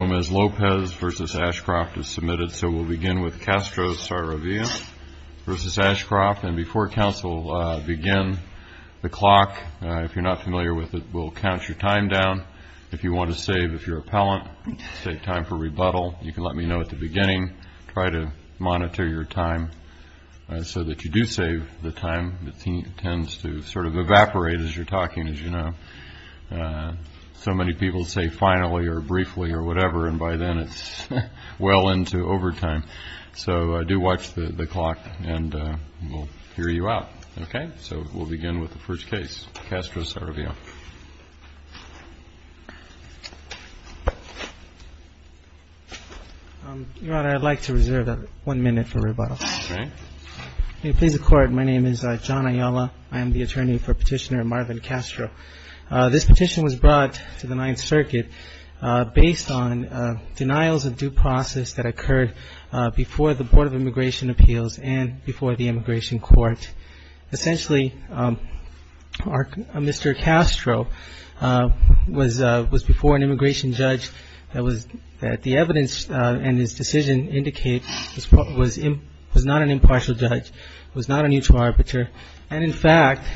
Lopez v. Ashcroft is submitted, so we'll begin with CASTRO-SARAVIA v. Ashcroft. And before council begin, the clock, if you're not familiar with it, will count your time down. If you want to save, if you're appellant, save time for rebuttal, you can let me know at the beginning. Try to monitor your time so that you do save the time. It tends to sort of evaporate as you're talking, as you know. So many people say finally or briefly or whatever, and by then it's well into overtime. So do watch the clock, and we'll hear you out. Okay? So we'll begin with the first case, CASTRO-SARAVIA. Your Honor, I'd like to reserve one minute for rebuttal. Okay. Please record. My name is John Ayala. I am the attorney for Petitioner Marvin Castro. This petition was brought to the Ninth Circuit based on denials of due process that occurred before the Board of Immigration Appeals and before the Immigration Court. Essentially, Mr. Castro was before an immigration judge that the evidence and his decision indicate was not an impartial judge, was not a neutral arbiter, and, in fact,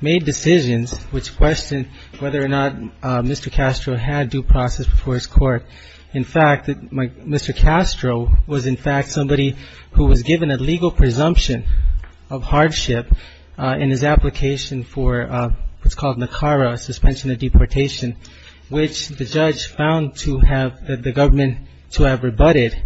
made decisions which questioned whether or not Mr. Castro had due process before his court. In fact, Mr. Castro was, in fact, somebody who was given a legal presumption of hardship in his application for what's called NACARA, suspension of deportation, which the judge found to have the government to have rebutted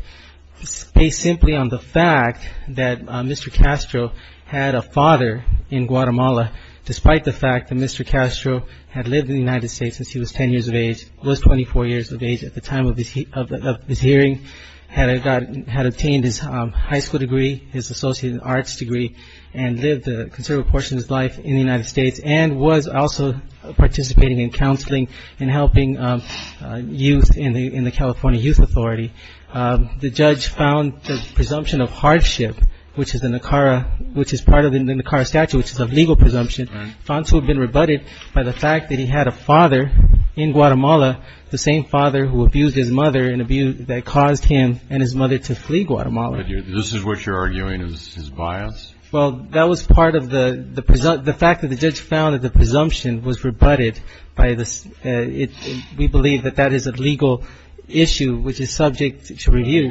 based simply on the fact that Mr. Castro had a father in Guatemala, despite the fact that Mr. Castro had lived in the United States since he was 10 years of age, was 24 years of age at the time of this hearing, had obtained his high school degree, his associate in arts degree, and lived a considerable portion of his life in the United States, and was also participating in counseling and helping youth in the California Youth Authority. The judge found the presumption of hardship, which is part of the NACARA statute, which is a legal presumption, found to have been rebutted by the fact that he had a father in Guatemala, the same father who abused his mother, and that caused him and his mother to flee Guatemala. This is what you're arguing is his bias? Well, that was part of the fact that the judge found that the presumption was rebutted. We believe that that is a legal issue which is subject to review.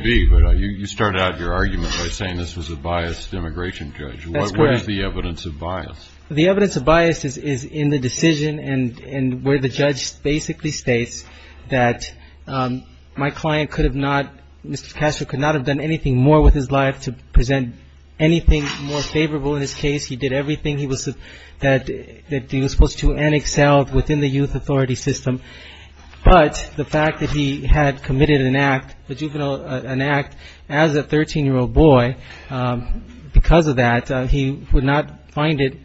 You started out your argument by saying this was a biased immigration judge. What is the evidence of bias? The evidence of bias is in the decision and where the judge basically states that my client could have not, Mr. Castro could not have done anything more with his life to present anything more favorable in his case. He did everything that he was supposed to and excelled within the youth authority system. But the fact that he had committed an act, an act as a 13-year-old boy, because of that he would not find it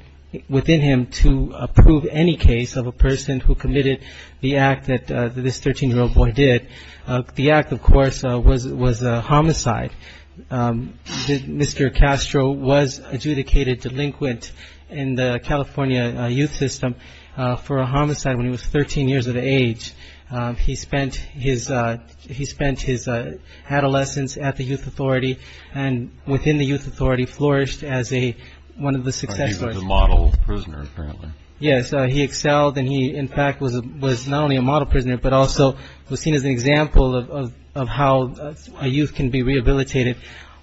within him to approve any case of a person who committed the act that this 13-year-old boy did. The act, of course, was a homicide. Mr. Castro was adjudicated delinquent in the California youth system for a homicide when he was 13 years of age. He spent his adolescence at the youth authority and within the youth authority flourished as one of the success stories. He was a model prisoner apparently. Yes, he excelled and he, in fact, was not only a model prisoner, but also was seen as an example of how a youth can be rehabilitated.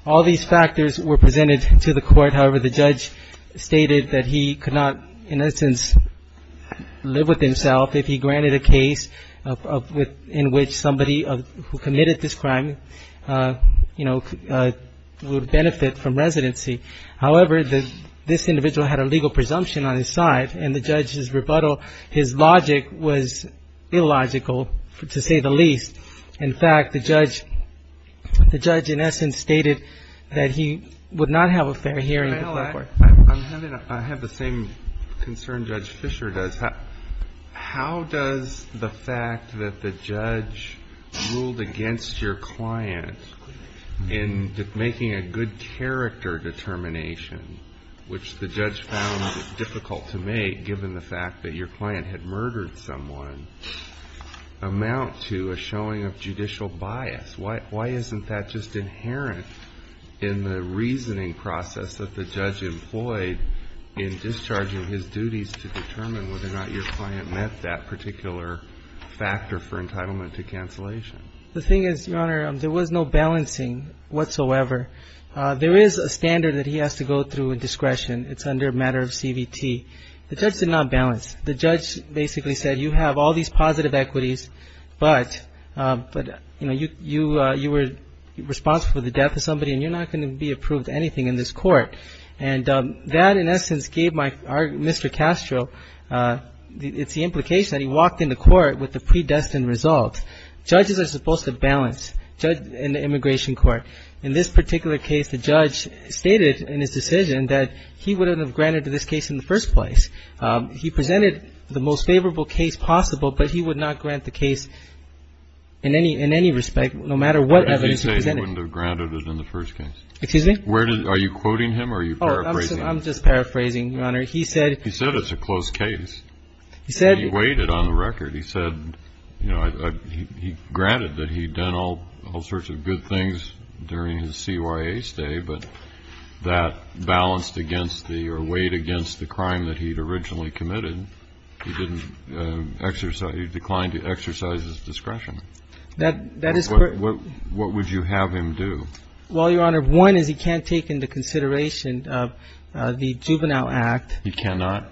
All these factors were presented to the court. However, the judge stated that he could not, in essence, live with himself if he granted a case in which somebody who committed this crime, you know, would benefit from residency. However, this individual had a legal presumption on his side and the judge's rebuttal, his logic was illogical, to say the least. In fact, the judge in essence stated that he would not have a fair hearing. I have the same concern Judge Fisher does. How does the fact that the judge ruled against your client in making a good character determination, which the judge found difficult to make given the fact that your client had murdered someone, amount to a showing of judicial bias? Why isn't that just inherent in the reasoning process that the judge employed in discharging his duties to determine whether or not your client met that particular factor for entitlement to cancellation? The thing is, Your Honor, there was no balancing whatsoever. There is a standard that he has to go through with discretion. It's under a matter of CVT. The judge did not balance. The judge basically said you have all these positive equities, but, you know, you were responsible for the death of somebody and you're not going to be approved to anything in this court. And that, in essence, gave Mr. Castro, it's the implication that he walked into court with the predestined results. Judges are supposed to balance in the immigration court. In this particular case, the judge stated in his decision that he wouldn't have granted this case in the first place. He presented the most favorable case possible, but he would not grant the case in any respect, no matter what evidence he presented. He wouldn't have granted it in the first case. Excuse me? Are you quoting him or are you paraphrasing? I'm just paraphrasing, Your Honor. He said it's a close case. He said he weighed it on the record. He said, you know, he granted that he'd done all sorts of good things during his CYA stay, but that balanced against the or weighed against the crime that he'd originally committed. He didn't exercise, he declined to exercise his discretion. That is correct. What would you have him do? Well, Your Honor, one is he can't take into consideration the Juvenile Act. He cannot?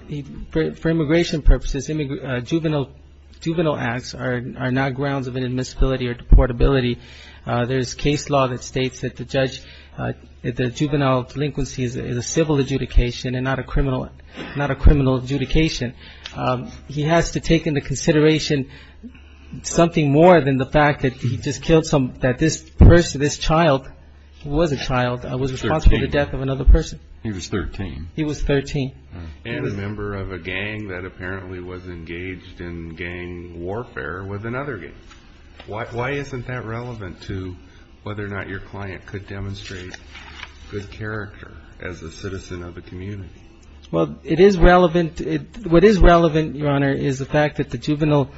For immigration purposes, Juvenile Acts are not grounds of inadmissibility or deportability. There's case law that states that the juvenile delinquency is a civil adjudication and not a criminal adjudication. He has to take into consideration something more than the fact that he just killed someone, that this person, this child, who was a child, was responsible for the death of another person. He was 13. He was 13. And a member of a gang that apparently was engaged in gang warfare with another gang. Why isn't that relevant to whether or not your client could demonstrate good character as a citizen of the community? Well, it is relevant. What is relevant, Your Honor, is the fact that the juvenile,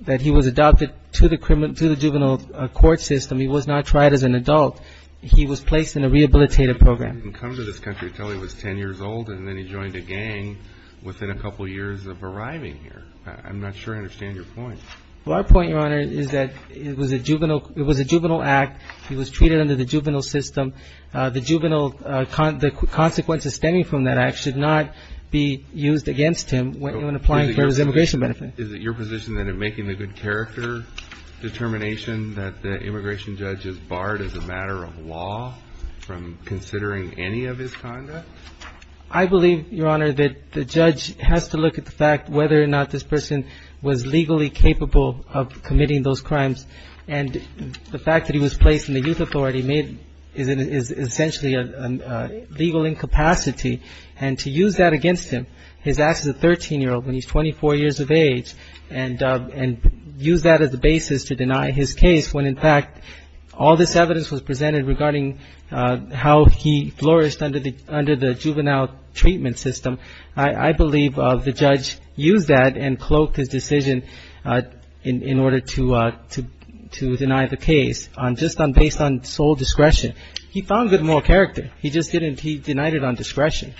that he was adopted to the juvenile court system. He was not tried as an adult. He was placed in a rehabilitative program. He didn't come to this country until he was 10 years old, and then he joined a gang within a couple years of arriving here. I'm not sure I understand your point. Well, our point, Your Honor, is that it was a juvenile act. He was treated under the juvenile system. The juvenile, the consequences stemming from that act should not be used against him when applying for his immigration benefit. Is it your position that in making the good character determination that the immigration judge is barred as a matter of law from considering any of his conduct? I believe, Your Honor, that the judge has to look at the fact whether or not this person was legally capable of committing those crimes. And the fact that he was placed in the youth authority is essentially a legal incapacity. And to use that against him, his act as a 13-year-old when he's 24 years of age, and use that as a basis to deny his case when, in fact, all this evidence was presented regarding how he flourished under the juvenile treatment system, I believe the judge used that and cloaked his decision in order to deny the case just based on sole discretion. He found good moral character. He just didn't. He denied it on discretion.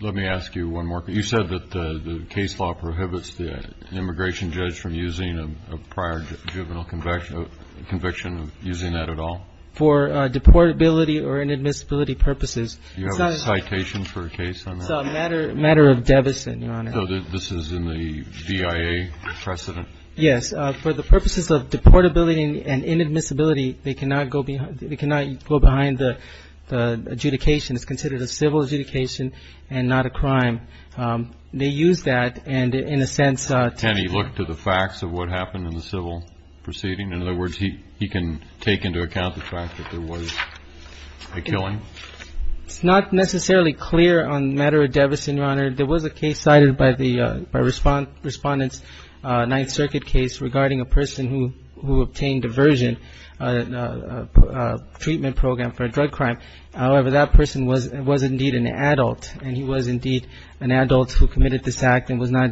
Let me ask you one more. You said that the case law prohibits the immigration judge from using a prior juvenile conviction, using that at all? For deportability or inadmissibility purposes. Do you have a citation for a case on that? It's a matter of deficit, Your Honor. So this is in the BIA precedent? Yes. For the purposes of deportability and inadmissibility, they cannot go behind the adjudication. It's considered a civil adjudication and not a crime. They use that, and in a sense to deny it. Can he look to the facts of what happened in the civil proceeding? In other words, he can take into account the fact that there was a killing? It's not necessarily clear on the matter of deficit, Your Honor. There was a case cited by Respondent's Ninth Circuit case regarding a person who obtained diversion, a treatment program for a drug crime. However, that person was indeed an adult, and he was indeed an adult who committed this act and was not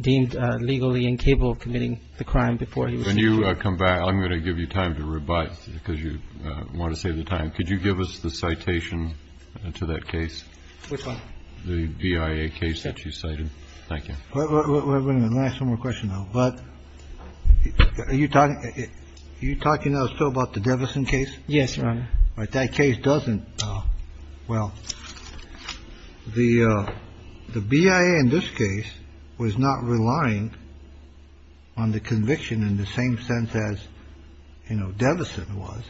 deemed legally incapable of committing the crime before he was convicted. When you come back, I'm going to give you time to revise, because you want to save the time. Could you give us the citation to that case? Which one? The BIA case that you cited. Thank you. Let me ask one more question, though. Yes, Your Honor. That case doesn't – well, the BIA in this case was not relying on the conviction in the same sense as, you know, Deveson was,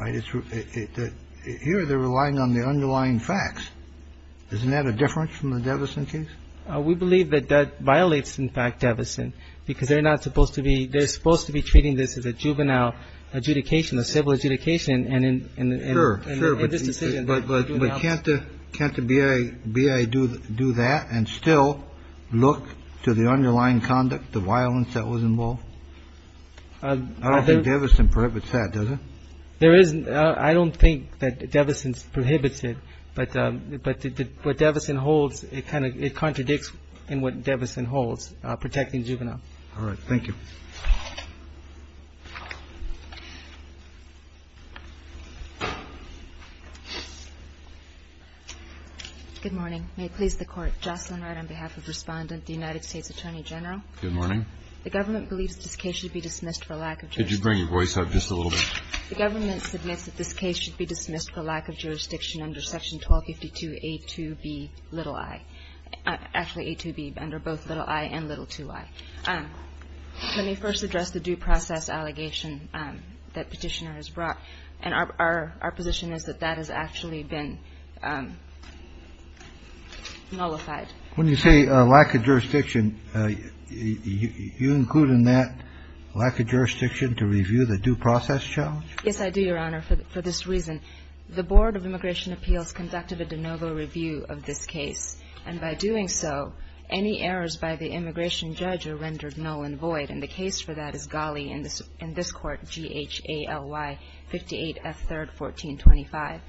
right? Here they're relying on the underlying facts. Isn't that a difference from the Deveson case? We believe that that violates, in fact, Deveson, because they're not supposed to be – they're supposed to be treating this as a juvenile adjudication, a civil adjudication. Sure, sure. But can't the BIA do that and still look to the underlying conduct, the violence that was involved? I don't think Deveson prohibits that, does it? I don't think that Deveson prohibits it, but what Deveson holds, it kind of contradicts what Deveson holds, protecting juveniles. All right. Thank you. Good morning. May it please the Court. Jocelyn Wright on behalf of Respondent, the United States Attorney General. Good morning. The government believes this case should be dismissed for lack of jurisdiction. Could you bring your voice up just a little bit? The government submits that this case should be dismissed for lack of jurisdiction under Section 1252A2B, little i. Actually, A2B, under both little i and little 2i. Let me first address the due process allegation that Petitioner has made. I think Petitioner has brought, and our position is that that has actually been nullified. When you say lack of jurisdiction, you include in that lack of jurisdiction to review the due process challenge? Yes, I do, Your Honor, for this reason. The Board of Immigration Appeals conducted a de novo review of this case, and by doing so, any errors by the immigration judge are rendered null and void, and the case for that is Ghali in this Court, G-H-A-L-Y 58F3rd 1425.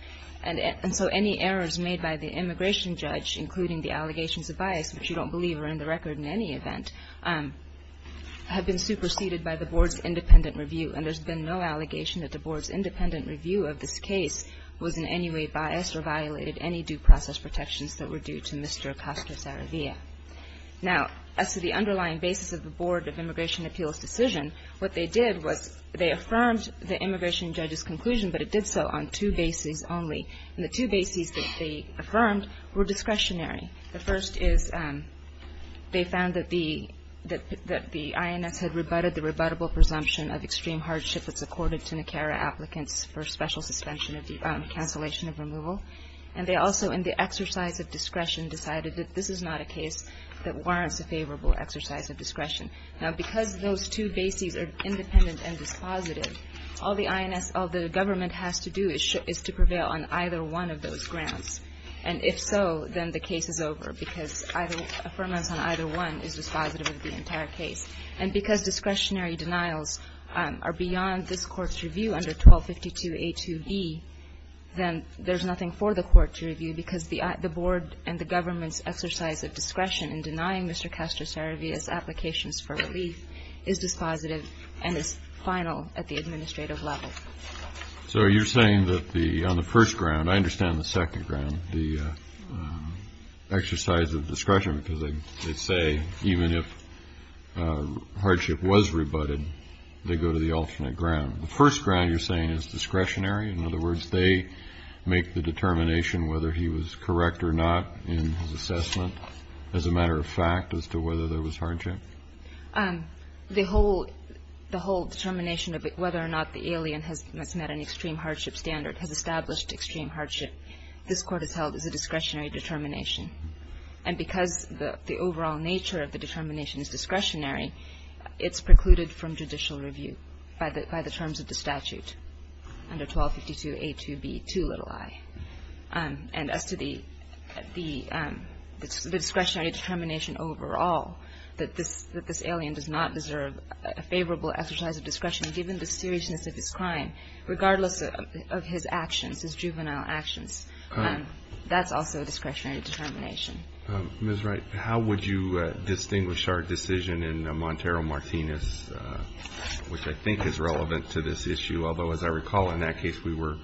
And so any errors made by the immigration judge, including the allegations of bias, which you don't believe are in the record in any event, have been superseded by the Board's independent review. And there's been no allegation that the Board's independent review of this case was in any way biased or violated any due process protections that were due to Mr. Acosta-Saravia. Now, as to the underlying basis of the Board of Immigration Appeals decision, what they did was they affirmed the immigration judge's conclusion, but it did so on two bases only. And the two bases that they affirmed were discretionary. The first is they found that the INS had rebutted the rebuttable presumption of extreme hardship that's accorded to NICARA applicants for special suspension of cancellation of removal. And they also, in the exercise of discretion, decided that this is not a case that warrants a favorable exercise of discretion. Now, because those two bases are independent and dispositive, all the INS, all the government has to do is to prevail on either one of those grounds. And if so, then the case is over, because affirmance on either one is dispositive of the entire case. And because discretionary denials are beyond this Court's review under 1252a2b, then there's nothing for the Court to review, because the Board and the government's exercise of discretion in denying Mr. Castro-Saravia's applications for relief is dispositive and is final at the administrative level. So you're saying that on the first ground, I understand the second ground, the exercise of discretion because they say even if hardship was rebutted, they go to the alternate ground. The first ground you're saying is discretionary. In other words, they make the determination whether he was correct or not in his assessment as a matter of fact as to whether there was hardship? The whole determination of whether or not the alien has met an extreme hardship standard has established extreme hardship. This Court has held as a discretionary determination. And because the overall nature of the determination is discretionary, it's precluded from judicial review by the terms of the statute under 1252a2b2i. And as to the discretionary determination overall, that this alien does not deserve a favorable exercise of discretion given the seriousness of his crime, regardless of his actions, his juvenile actions, that's also a discretionary determination. Ms. Wright, how would you distinguish our decision in Montero-Martinez, which I think is relevant to this issue, although, as I recall, in that case we were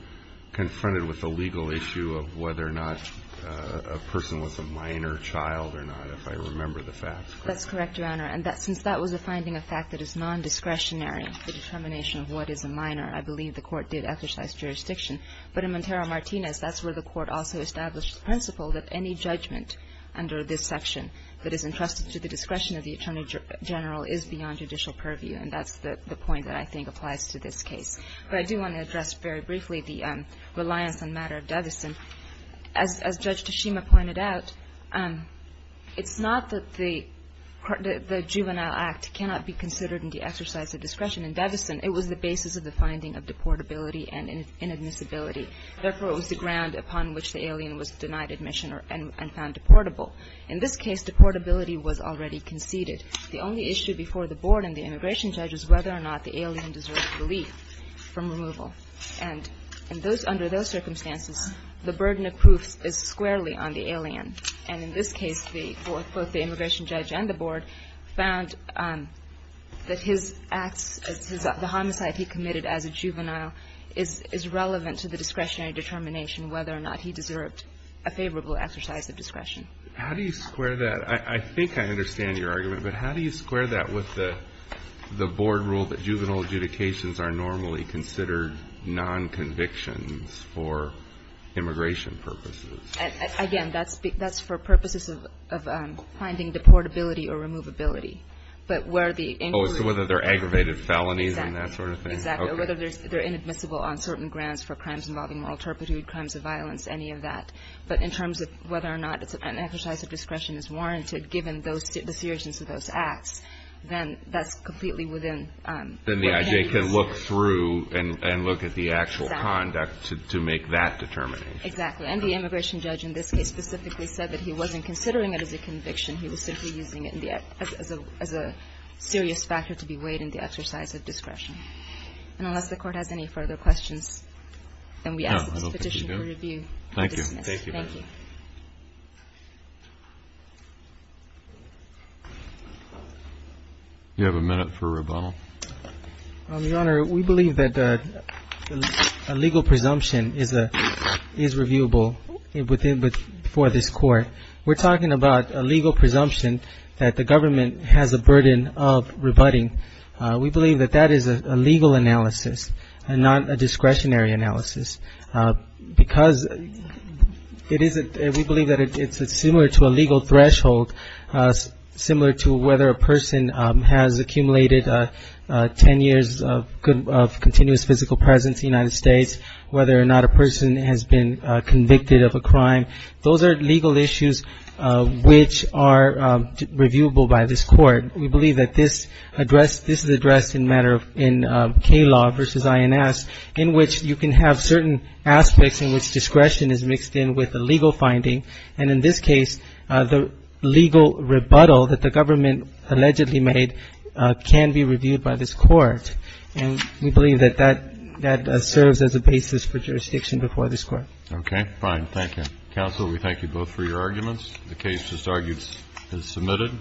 confronted with the legal issue of whether or not a person was a minor child or not, if I remember the facts correctly. That's correct, Your Honor. And since that was a finding of fact that is nondiscretionary, the determination of what is a minor, I believe the Court did exercise jurisdiction. But in Montero-Martinez, that's where the Court also established the principle that any judgment under this section that is entrusted to the discretion of the Attorney General is beyond judicial purview. And that's the point that I think applies to this case. But I do want to address very briefly the reliance on matter of deficit. As Judge Tashima pointed out, it's not that the juvenile act cannot be considered in the exercise of discretion. In deficit, it was the basis of the finding of deportability and inadmissibility. Therefore, it was the ground upon which the alien was denied admission and found deportable. In this case, deportability was already conceded. The only issue before the Board and the immigration judge is whether or not the alien deserves relief from removal. And under those circumstances, the burden of proof is squarely on the alien. And in this case, both the immigration judge and the Board found that his acts, the homicide he committed as a juvenile, is relevant to the discretionary determination whether or not he deserved a favorable exercise of discretion. How do you square that? I think I understand your argument. But how do you square that with the Board rule that juvenile adjudications are normally considered nonconvictions for immigration purposes? Again, that's for purposes of finding deportability or removability. But where the inclusion of the alien. So whether they're aggravated felonies and that sort of thing? Exactly. Exactly. Or whether they're inadmissible on certain grounds for crimes involving moral turpitude, crimes of violence, any of that. But in terms of whether or not an exercise of discretion is warranted, given the seriousness of those acts, then that's completely within what can be considered. Then the IJ can look through and look at the actual conduct to make that determination. Exactly. And the immigration judge in this case specifically said that he wasn't considering it as a conviction. He was simply using it as a serious factor to be weighed in the exercise of discretion. And unless the Court has any further questions, then we ask that this petition be reviewed. Thank you. Thank you. Thank you. You have a minute for rebuttal. Your Honor, we believe that a legal presumption is reviewable for this Court. We're talking about a legal presumption that the government has a burden of rebutting. We believe that that is a legal analysis and not a discretionary analysis. Because we believe that it's similar to a legal threshold, similar to whether a person has accumulated ten years of continuous physical presence in the United States, whether or not a person has been convicted of a crime. Those are legal issues which are reviewable by this Court. We believe that this is addressed in K-law versus INS, in which you can have certain aspects in which discretion is mixed in with a legal finding. And in this case, the legal rebuttal that the government allegedly made can be reviewed by this Court. And we believe that that serves as a basis for jurisdiction before this Court. Okay. Fine. Thank you. Counsel, we thank you both for your arguments. The case is submitted.